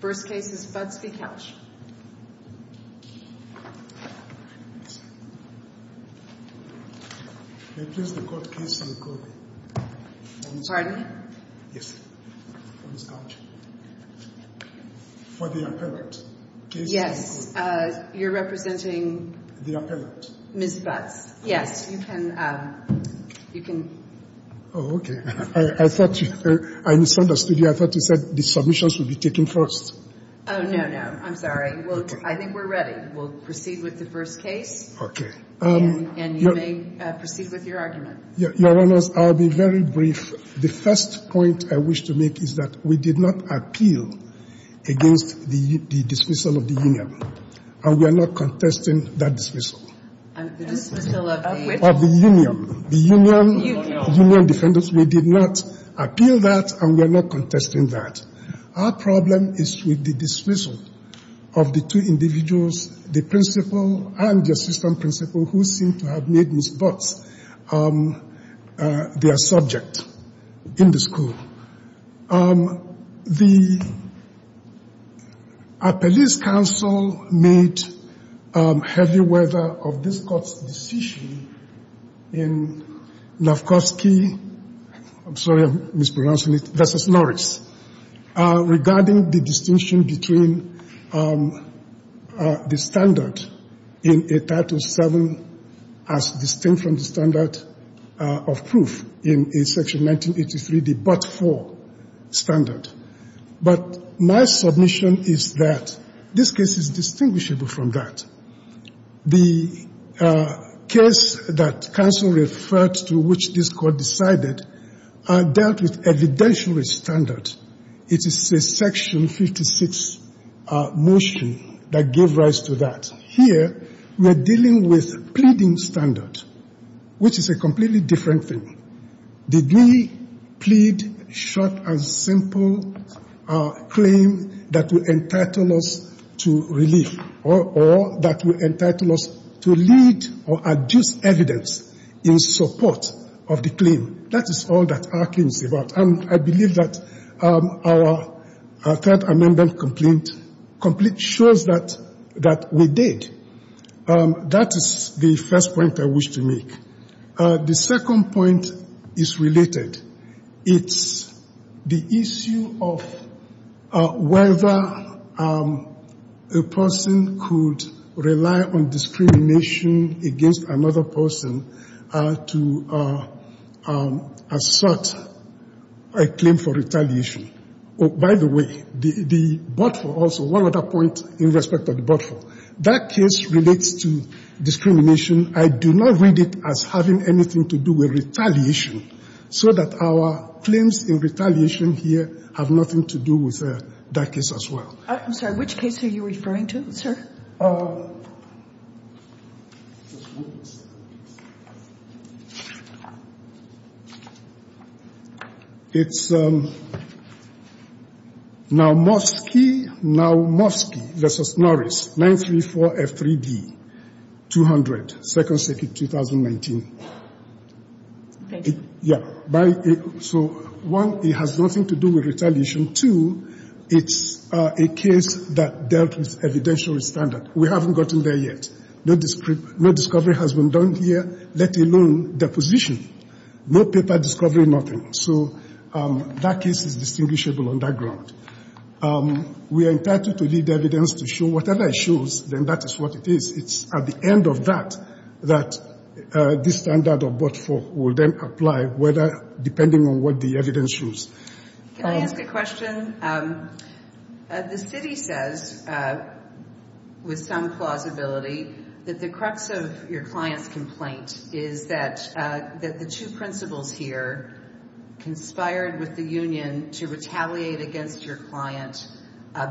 First case is Butts v. Kelch for the appellate. Yes, you're representing Ms. Butts. Yes, you can. Oh, okay. I misunderstood you. I thought you said the submissions would be taken first. Oh, no, no. I'm sorry. I think we're ready. We'll proceed with the first case. Okay. And you may proceed with your argument. Your Honor, I'll be very brief. The first point I wish to make is that we did not appeal against the dismissal of the union, and we are not contesting that dismissal. The dismissal of which? Of the union. The union. The union. The union defendants. We did not appeal that, and we are not contesting that. Our problem is with the dismissal of the two individuals, the principal and the assistant principal, who seem to have made Ms. Butts their subject in the school. The police counsel made heavy weather of this court's decision in Novkoski, I'm sorry I'm mispronouncing it, versus Norris, regarding the distinction between the standard in 807 as distinct from the standard of proof in Section 1983, the but-for standard. But my submission is that this case is distinguishable from that. The case that counsel referred to, which this court decided, dealt with evidentiary standard. It is a Section 56 motion that gave rise to that. Here, we are dealing with pleading standard, which is a completely different thing. Did we plead short and simple claim that will entitle us to relief, or that will entitle us to lead or adduce evidence in support of the claim? That is all that our claim is about. I believe that our third amendment complaint shows that we did. That is the first point I wish to make. The second point is related. It's the issue of whether a person could rely on discrimination against another person to assert a claim for retaliation. By the way, the but-for also, one other point in respect of the but-for. That case relates to discrimination. I do not read it as having anything to do with retaliation, so that our claims in retaliation here have nothing to do with that case as well. I'm sorry. Which case are you referring to, sir? It's Naumovsky v. Norris, 934F3D, 200. Thank you. Yeah. So, one, it has nothing to do with retaliation. Two, it's a case that dealt with evidentiary standard. We haven't gotten there yet. No discovery has been done here, let alone deposition. No paper discovery, nothing. So that case is distinguishable on that ground. We are entitled to lead evidence to show whatever it shows, then that is what it is. It's at the end of that that the standard of but-for will then apply, depending on what the evidence shows. Can I ask a question? The city says, with some plausibility, that the crux of your client's complaint is that the two principals here conspired with the union to retaliate against your client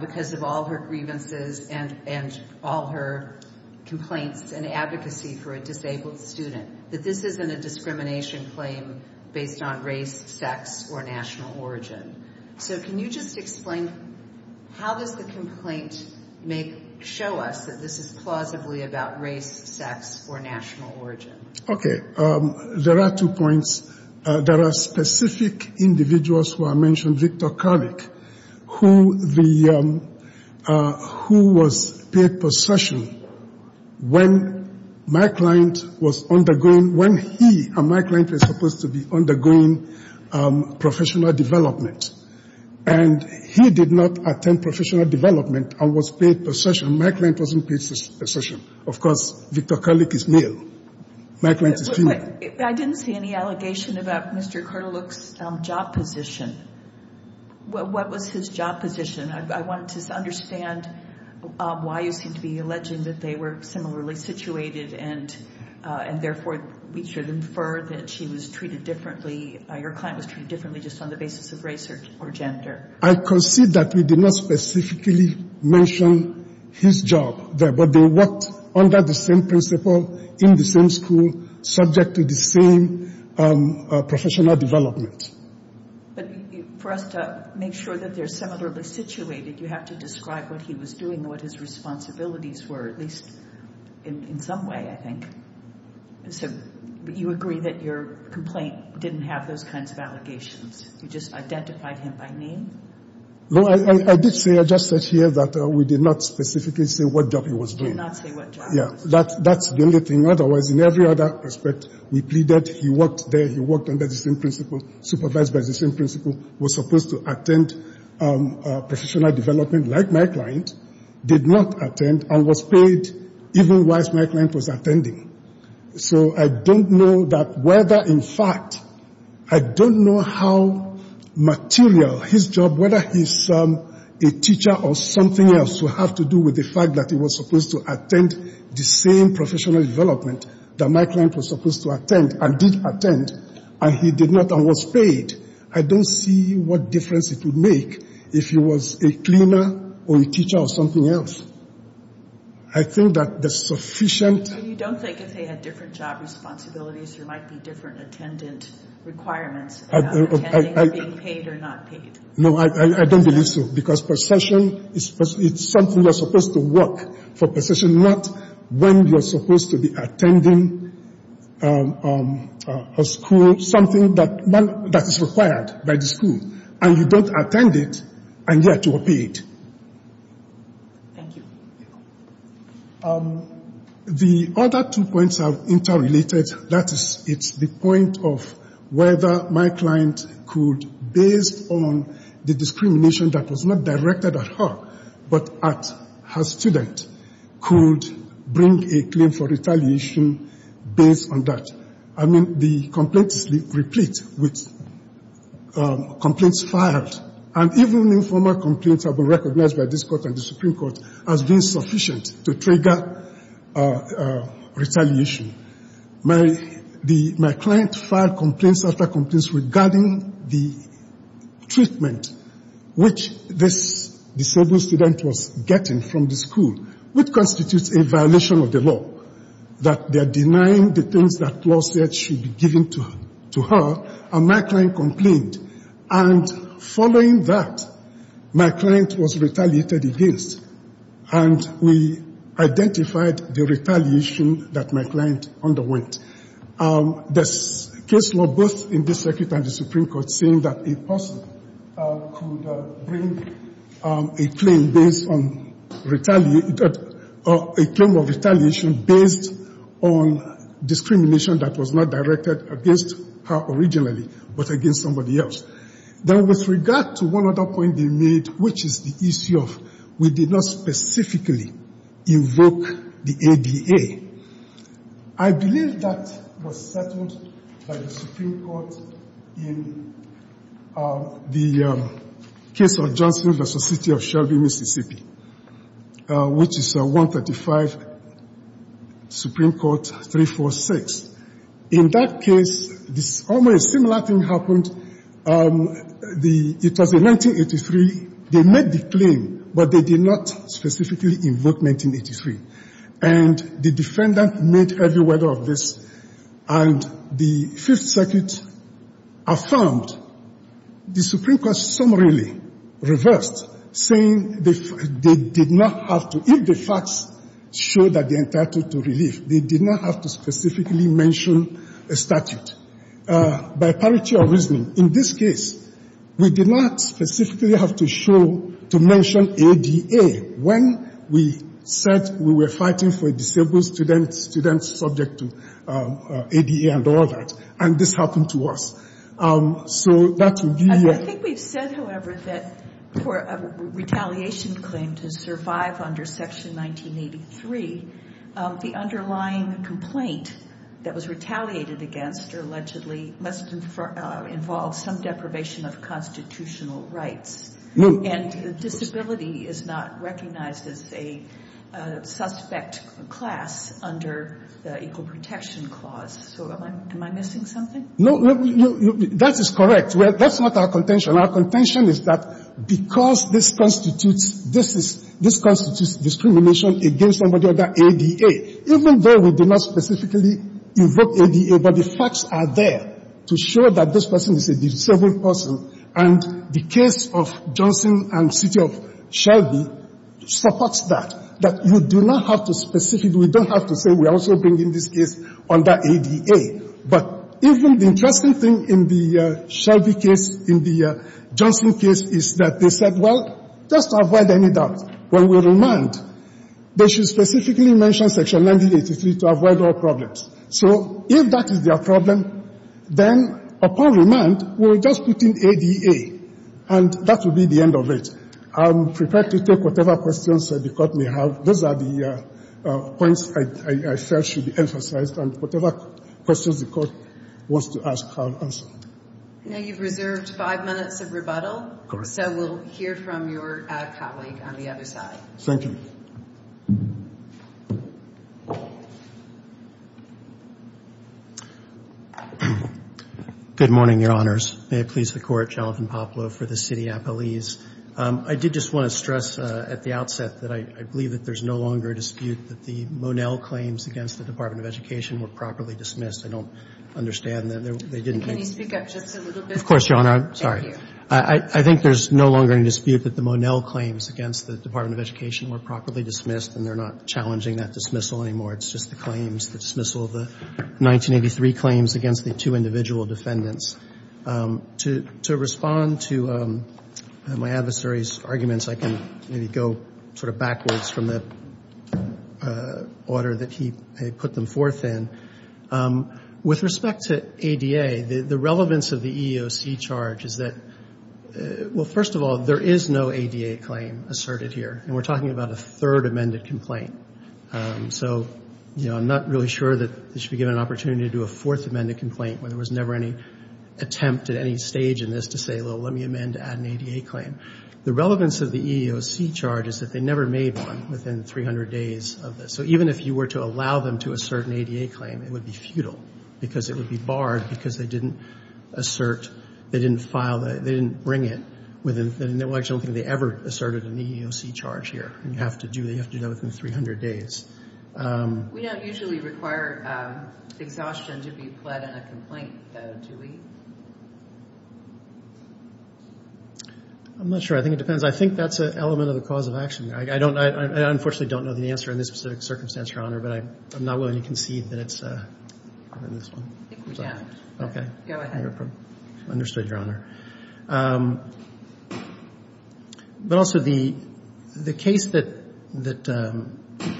because of all her grievances and all her complaints and advocacy for a disabled student, that this isn't a discrimination claim based on race, sex, or national origin. So can you just explain how does the complaint show us that this is plausibly about race, sex, or national origin? Okay. There are two points. There are specific individuals who I mentioned, Victor Kallik, who was paid possession when my client was undergoing, when he and my client were supposed to be undergoing professional development. And he did not attend professional development and was paid possession. My client wasn't paid possession. Of course, Victor Kallik is male. My client is female. I didn't see any allegation about Mr. Kallik's job position. What was his job position? I wanted to understand why you seem to be alleging that they were similarly situated and, therefore, we should infer that she was treated differently, your client was treated differently just on the basis of race or gender. I concede that we did not specifically mention his job there, but they worked under the same principle, in the same school, subject to the same professional development. But for us to make sure that they're similarly situated, you have to describe what he was doing, what his responsibilities were, at least in some way, I think. So you agree that your complaint didn't have those kinds of allegations. You just identified him by name? I did say, I just said here that we did not specifically say what job he was doing. You did not say what job he was doing. That's the only thing. Otherwise, in every other respect, we plead that he worked there, he worked under the same principle, supervised by the same principle, was supposed to attend professional development, like my client, did not attend, and was paid even whilst my client was attending. So I don't know that whether, in fact, I don't know how material his job, whether he's a teacher or something else, will have to do with the fact that he was supposed to attend the same professional development that my client was supposed to attend, and did attend, and he did not, and was paid. I don't see what difference it would make if he was a cleaner or a teacher or something else. I think that the sufficient- So you don't think if they had different job responsibilities, there might be different attendant requirements about attending or being paid or not paid? No, I don't believe so, because possession is something that's supposed to work for possession, not when you're supposed to be attending a school, something that is required by the school, and you don't attend it, and yet you are paid. Thank you. The other two points are interrelated. That is, it's the point of whether my client could, based on the discrimination that was not directed at her, but at her student, could bring a claim for retaliation based on that. I mean, the complaints replete with complaints filed, and even informal complaints have been recognized by this court and the Supreme Court as being sufficient to trigger retaliation. My client filed complaints after complaints regarding the treatment which this disabled student was getting from the school, which constitutes a violation of the law, that they're denying the things that was said should be given to her, and my client complained. And following that, my client was retaliated against, and we identified the retaliation that my client underwent. There's case law both in this circuit and the Supreme Court saying that a person could bring a claim of retaliation based on discrimination that was not directed against her originally, but against somebody else. Then with regard to one other point they made, which is the issue of we did not specifically invoke the ADA, I believe that was settled by the Supreme Court in the case of Johnson versus the city of Shelby, Mississippi, which is 135 Supreme Court 346. In that case, a similar thing happened. It was in 1983. They made the claim, but they did not specifically invoke 1983. And the defendant made every word of this, and the Fifth Circuit affirmed. The Supreme Court summarily reversed, saying they did not have to, if the facts show that they entitled to relief, they did not have to specifically mention a statute. By parity of reasoning, in this case, we did not specifically have to show, to mention ADA when we said we were fighting for disabled students subject to ADA and all that. And this happened to us. I think we've said, however, that for a retaliation claim to survive under Section 1983, the underlying complaint that was retaliated against her allegedly must involve some deprivation of constitutional rights. And disability is not recognized as a suspect class under the Equal Protection Clause. So am I missing something? No, that is correct. That's not our contention. Our contention is that because this constitutes discrimination against somebody under ADA, even though we did not specifically invoke ADA, but the facts are there to show that this person is a disabled person. And the case of Johnson and city of Shelby supports that, that you do not have to specifically we don't have to say we're also bringing this case under ADA. But even the interesting thing in the Shelby case, in the Johnson case, is that they said, well, just to avoid any doubt, when we remand, they should specifically mention Section 1983 to avoid all problems. So if that is their problem, then upon remand, we'll just put in ADA. And that will be the end of it. I'm prepared to take whatever questions the Court may have. Those are the points I felt should be emphasized. And whatever questions the Court wants to ask, I'll answer. Now you've reserved five minutes of rebuttal. Of course. So we'll hear from your colleague on the other side. Thank you. Good morning, Your Honors. May it please the Court, Jonathan Poplow for the City Appellees. I did just want to stress at the outset that I believe that there's no longer a dispute that the Monell claims against the Department of Education were properly dismissed. I don't understand that they didn't make it. Can you speak up just a little bit? Of course, Your Honor. Thank you. I think there's no longer any dispute that the Monell claims against the Department of Education were properly dismissed, and they're not challenging that dismissal anymore. It's just the claims, the dismissal of the 1983 claims against the two individual defendants. To respond to my adversary's arguments, I can maybe go sort of backwards from the order that he put them forth in. With respect to ADA, the relevance of the EEOC charge is that, well, first of all, there is no ADA claim asserted here, and we're talking about a third amended complaint. So, you know, I'm not really sure that they should be given an opportunity to do a fourth amended complaint where there was never any attempt at any stage in this to say, well, let me amend to add an ADA claim. The relevance of the EEOC charge is that they never made one within 300 days of this. So even if you were to allow them to assert an ADA claim, it would be futile because it would be barred because they didn't assert, they didn't file, they didn't bring it. I don't think they ever asserted an EEOC charge here. You have to do that within 300 days. We don't usually require exhaustion to be pled in a complaint, though, do we? I'm not sure. I think it depends. I think that's an element of the cause of action. I don't, I unfortunately don't know the answer in this specific circumstance, Your Honor, but I'm not willing to concede that it's in this one. I think we have. Okay. Go ahead. Understood, Your Honor. But also the case that they're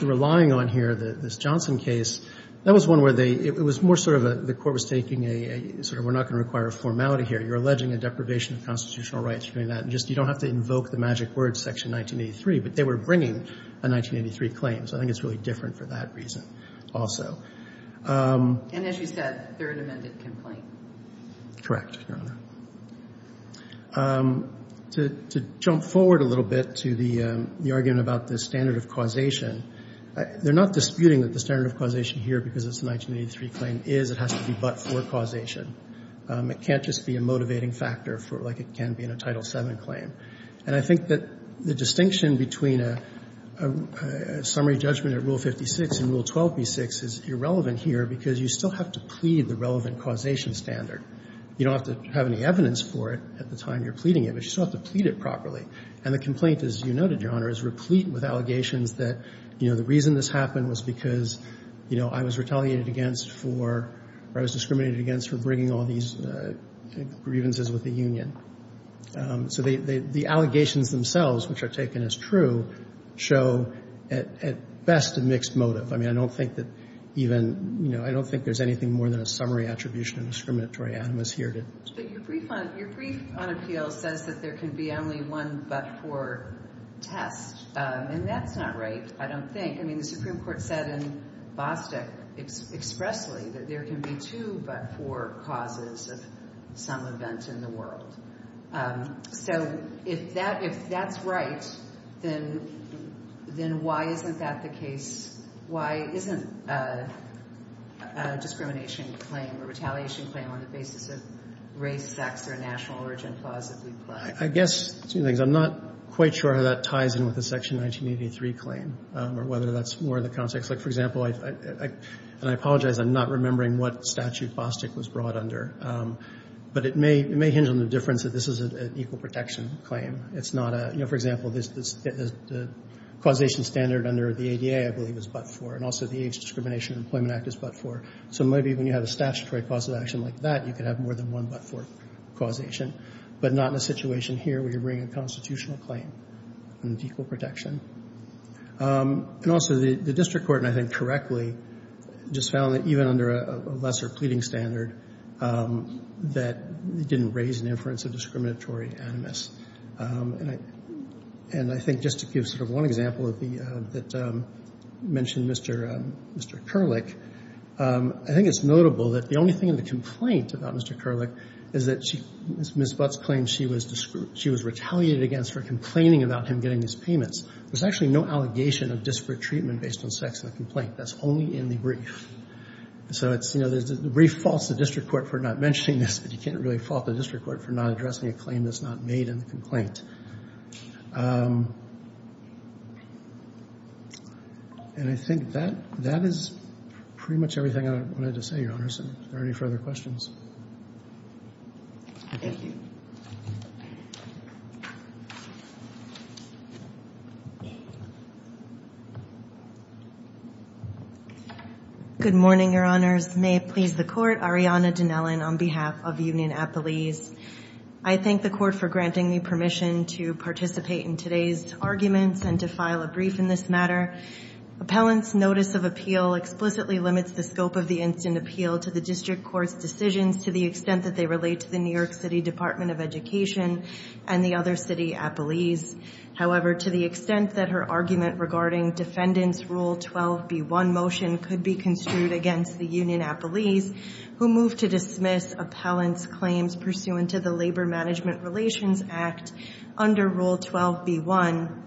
relying on here, this Johnson case, that was one where they, it was more sort of the court was taking a sort of we're not going to require a formality here. You're alleging a deprivation of constitutional rights. You're doing that. You don't have to invoke the magic word section 1983, but they were bringing a 1983 claim. So I think it's really different for that reason also. And as you said, they're an amended complaint. Correct, Your Honor. To jump forward a little bit to the argument about the standard of causation, they're not disputing that the standard of causation here, because it's a 1983 claim, is it has to be but-for causation. It can't just be a motivating factor for like it can be in a Title VII claim. And I think that the distinction between a summary judgment at Rule 56 and Rule 12b6 is irrelevant here because you still have to plead the relevant causation standard. You don't have to have any evidence for it at the time you're pleading it, but you still have to plead it properly. And the complaint, as you noted, Your Honor, is replete with allegations that, you know, the reason this happened was because, you know, I was retaliated against for, or I was discriminated against for bringing all these grievances with the union. So the allegations themselves, which are taken as true, show at best a mixed motive. I mean, I don't think that even, you know, I don't think there's anything more than a summary attribution of discriminatory animus here. But your brief on appeals says that there can be only one but-for test, and that's not right, I don't think. I mean, the Supreme Court said in Bostick expressly that there can be two but-for causes of some event in the world. So if that's right, then why isn't that the case? Why isn't a discrimination claim or retaliation claim on the basis of race, sex, or national origin plausibly plagued? I guess two things. I'm not quite sure how that ties in with the Section 1983 claim or whether that's more in the context. Like, for example, and I apologize, I'm not remembering what statute Bostick was brought under, but it may hinge on the difference that this is an equal protection claim. It's not a, you know, for example, the causation standard under the ADA, I believe, is but-for, and also the Age Discrimination Employment Act is but-for. So maybe when you have a statutory cause of action like that, you could have more than one but-for causation, but not in a situation here where you're bringing a constitutional claim and it's equal protection. And also the district court, and I think correctly, just found that even under a lesser pleading standard, that it didn't raise an inference of discriminatory animus. And I think just to give sort of one example that mentioned Mr. Kerlik, I think it's notable that the only thing in the complaint about Mr. Kerlik is that she, Ms. Butts claims she was retaliated against for complaining about him getting his payments. There's actually no allegation of disparate treatment based on sex in the complaint. That's only in the brief. So it's, you know, the brief faults the district court for not mentioning this, but you can't really fault the district court for not addressing a claim that's not made in the complaint. And I think that is pretty much everything I wanted to say, Your Honors. Are there any further questions? Thank you. Good morning, Your Honors. May it please the Court. Arianna Dinellon on behalf of Union Appellees. I thank the Court for granting me permission to participate in today's arguments and to file a brief in this matter. Appellant's notice of appeal explicitly limits the scope of the instant appeal to the district court's decisions to the extent that they relate to the New York City Department of Education and the other city appellees. However, to the extent that her argument regarding Defendant's Rule 12b1 motion could be construed against the Union Appellees, who move to dismiss Appellant's claims pursuant to the Labor Management Relations Act under Rule 12b1,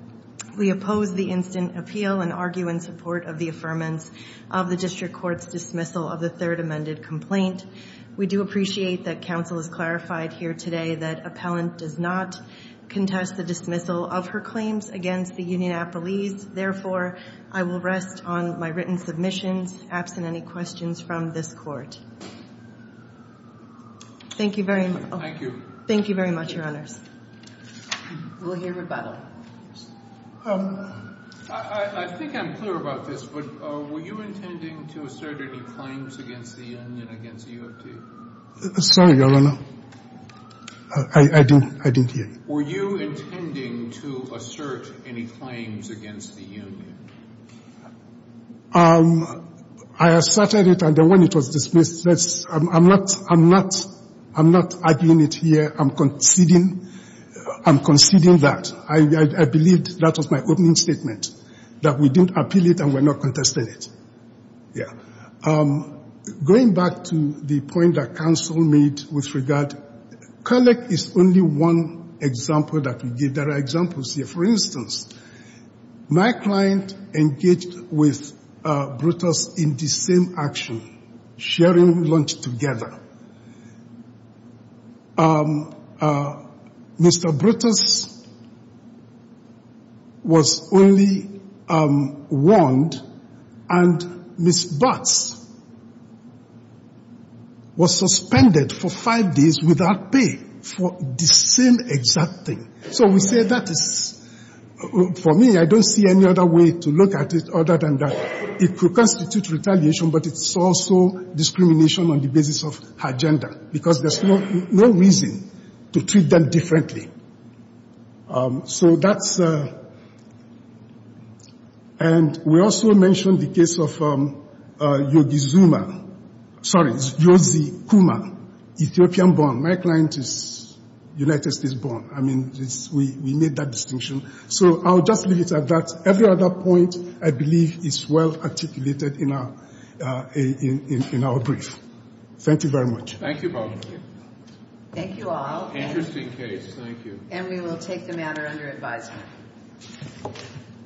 we oppose the instant appeal and argue in support of the affirmance of the district court's dismissal of the third amended complaint. We do appreciate that counsel has clarified here today that Appellant does not contest the dismissal of her claims against the Union Appellees. Therefore, I will rest on my written submissions, absent any questions from this Court. Thank you very much. Thank you. Thank you very much, Your Honors. We'll hear rebuttal. I think I'm clear about this, but were you intending to assert any claims against the Union and against U of T? Sorry, Your Honor. I didn't hear you. Were you intending to assert any claims against the Union? I asserted it, and then when it was dismissed, I'm not arguing it here. I'm conceding that. I believe that was my opening statement, that we didn't appeal it and we're not contesting it. Going back to the point that counsel made with regard, Kolek is only one example that we give. There are examples here. For instance, my client engaged with Brutus in the same action, sharing lunch together. Mr. Brutus was only warned, and Ms. Butts was suspended for five days without pay for the same exact thing. So we say that is, for me, I don't see any other way to look at it other than that it could constitute retaliation, but it's also discrimination on the basis of her gender, because there's no reason to treat them differently. So that's a – and we also mentioned the case of Yogi Zuma – sorry, Yosie Kuma, Ethiopian-born. My client is United States-born. I mean, we made that distinction. So I'll just leave it at that. Every other point, I believe, is well articulated in our brief. Thank you very much. Thank you, Paul. Thank you all. Interesting case. Thank you. And we will take the matter under advisement.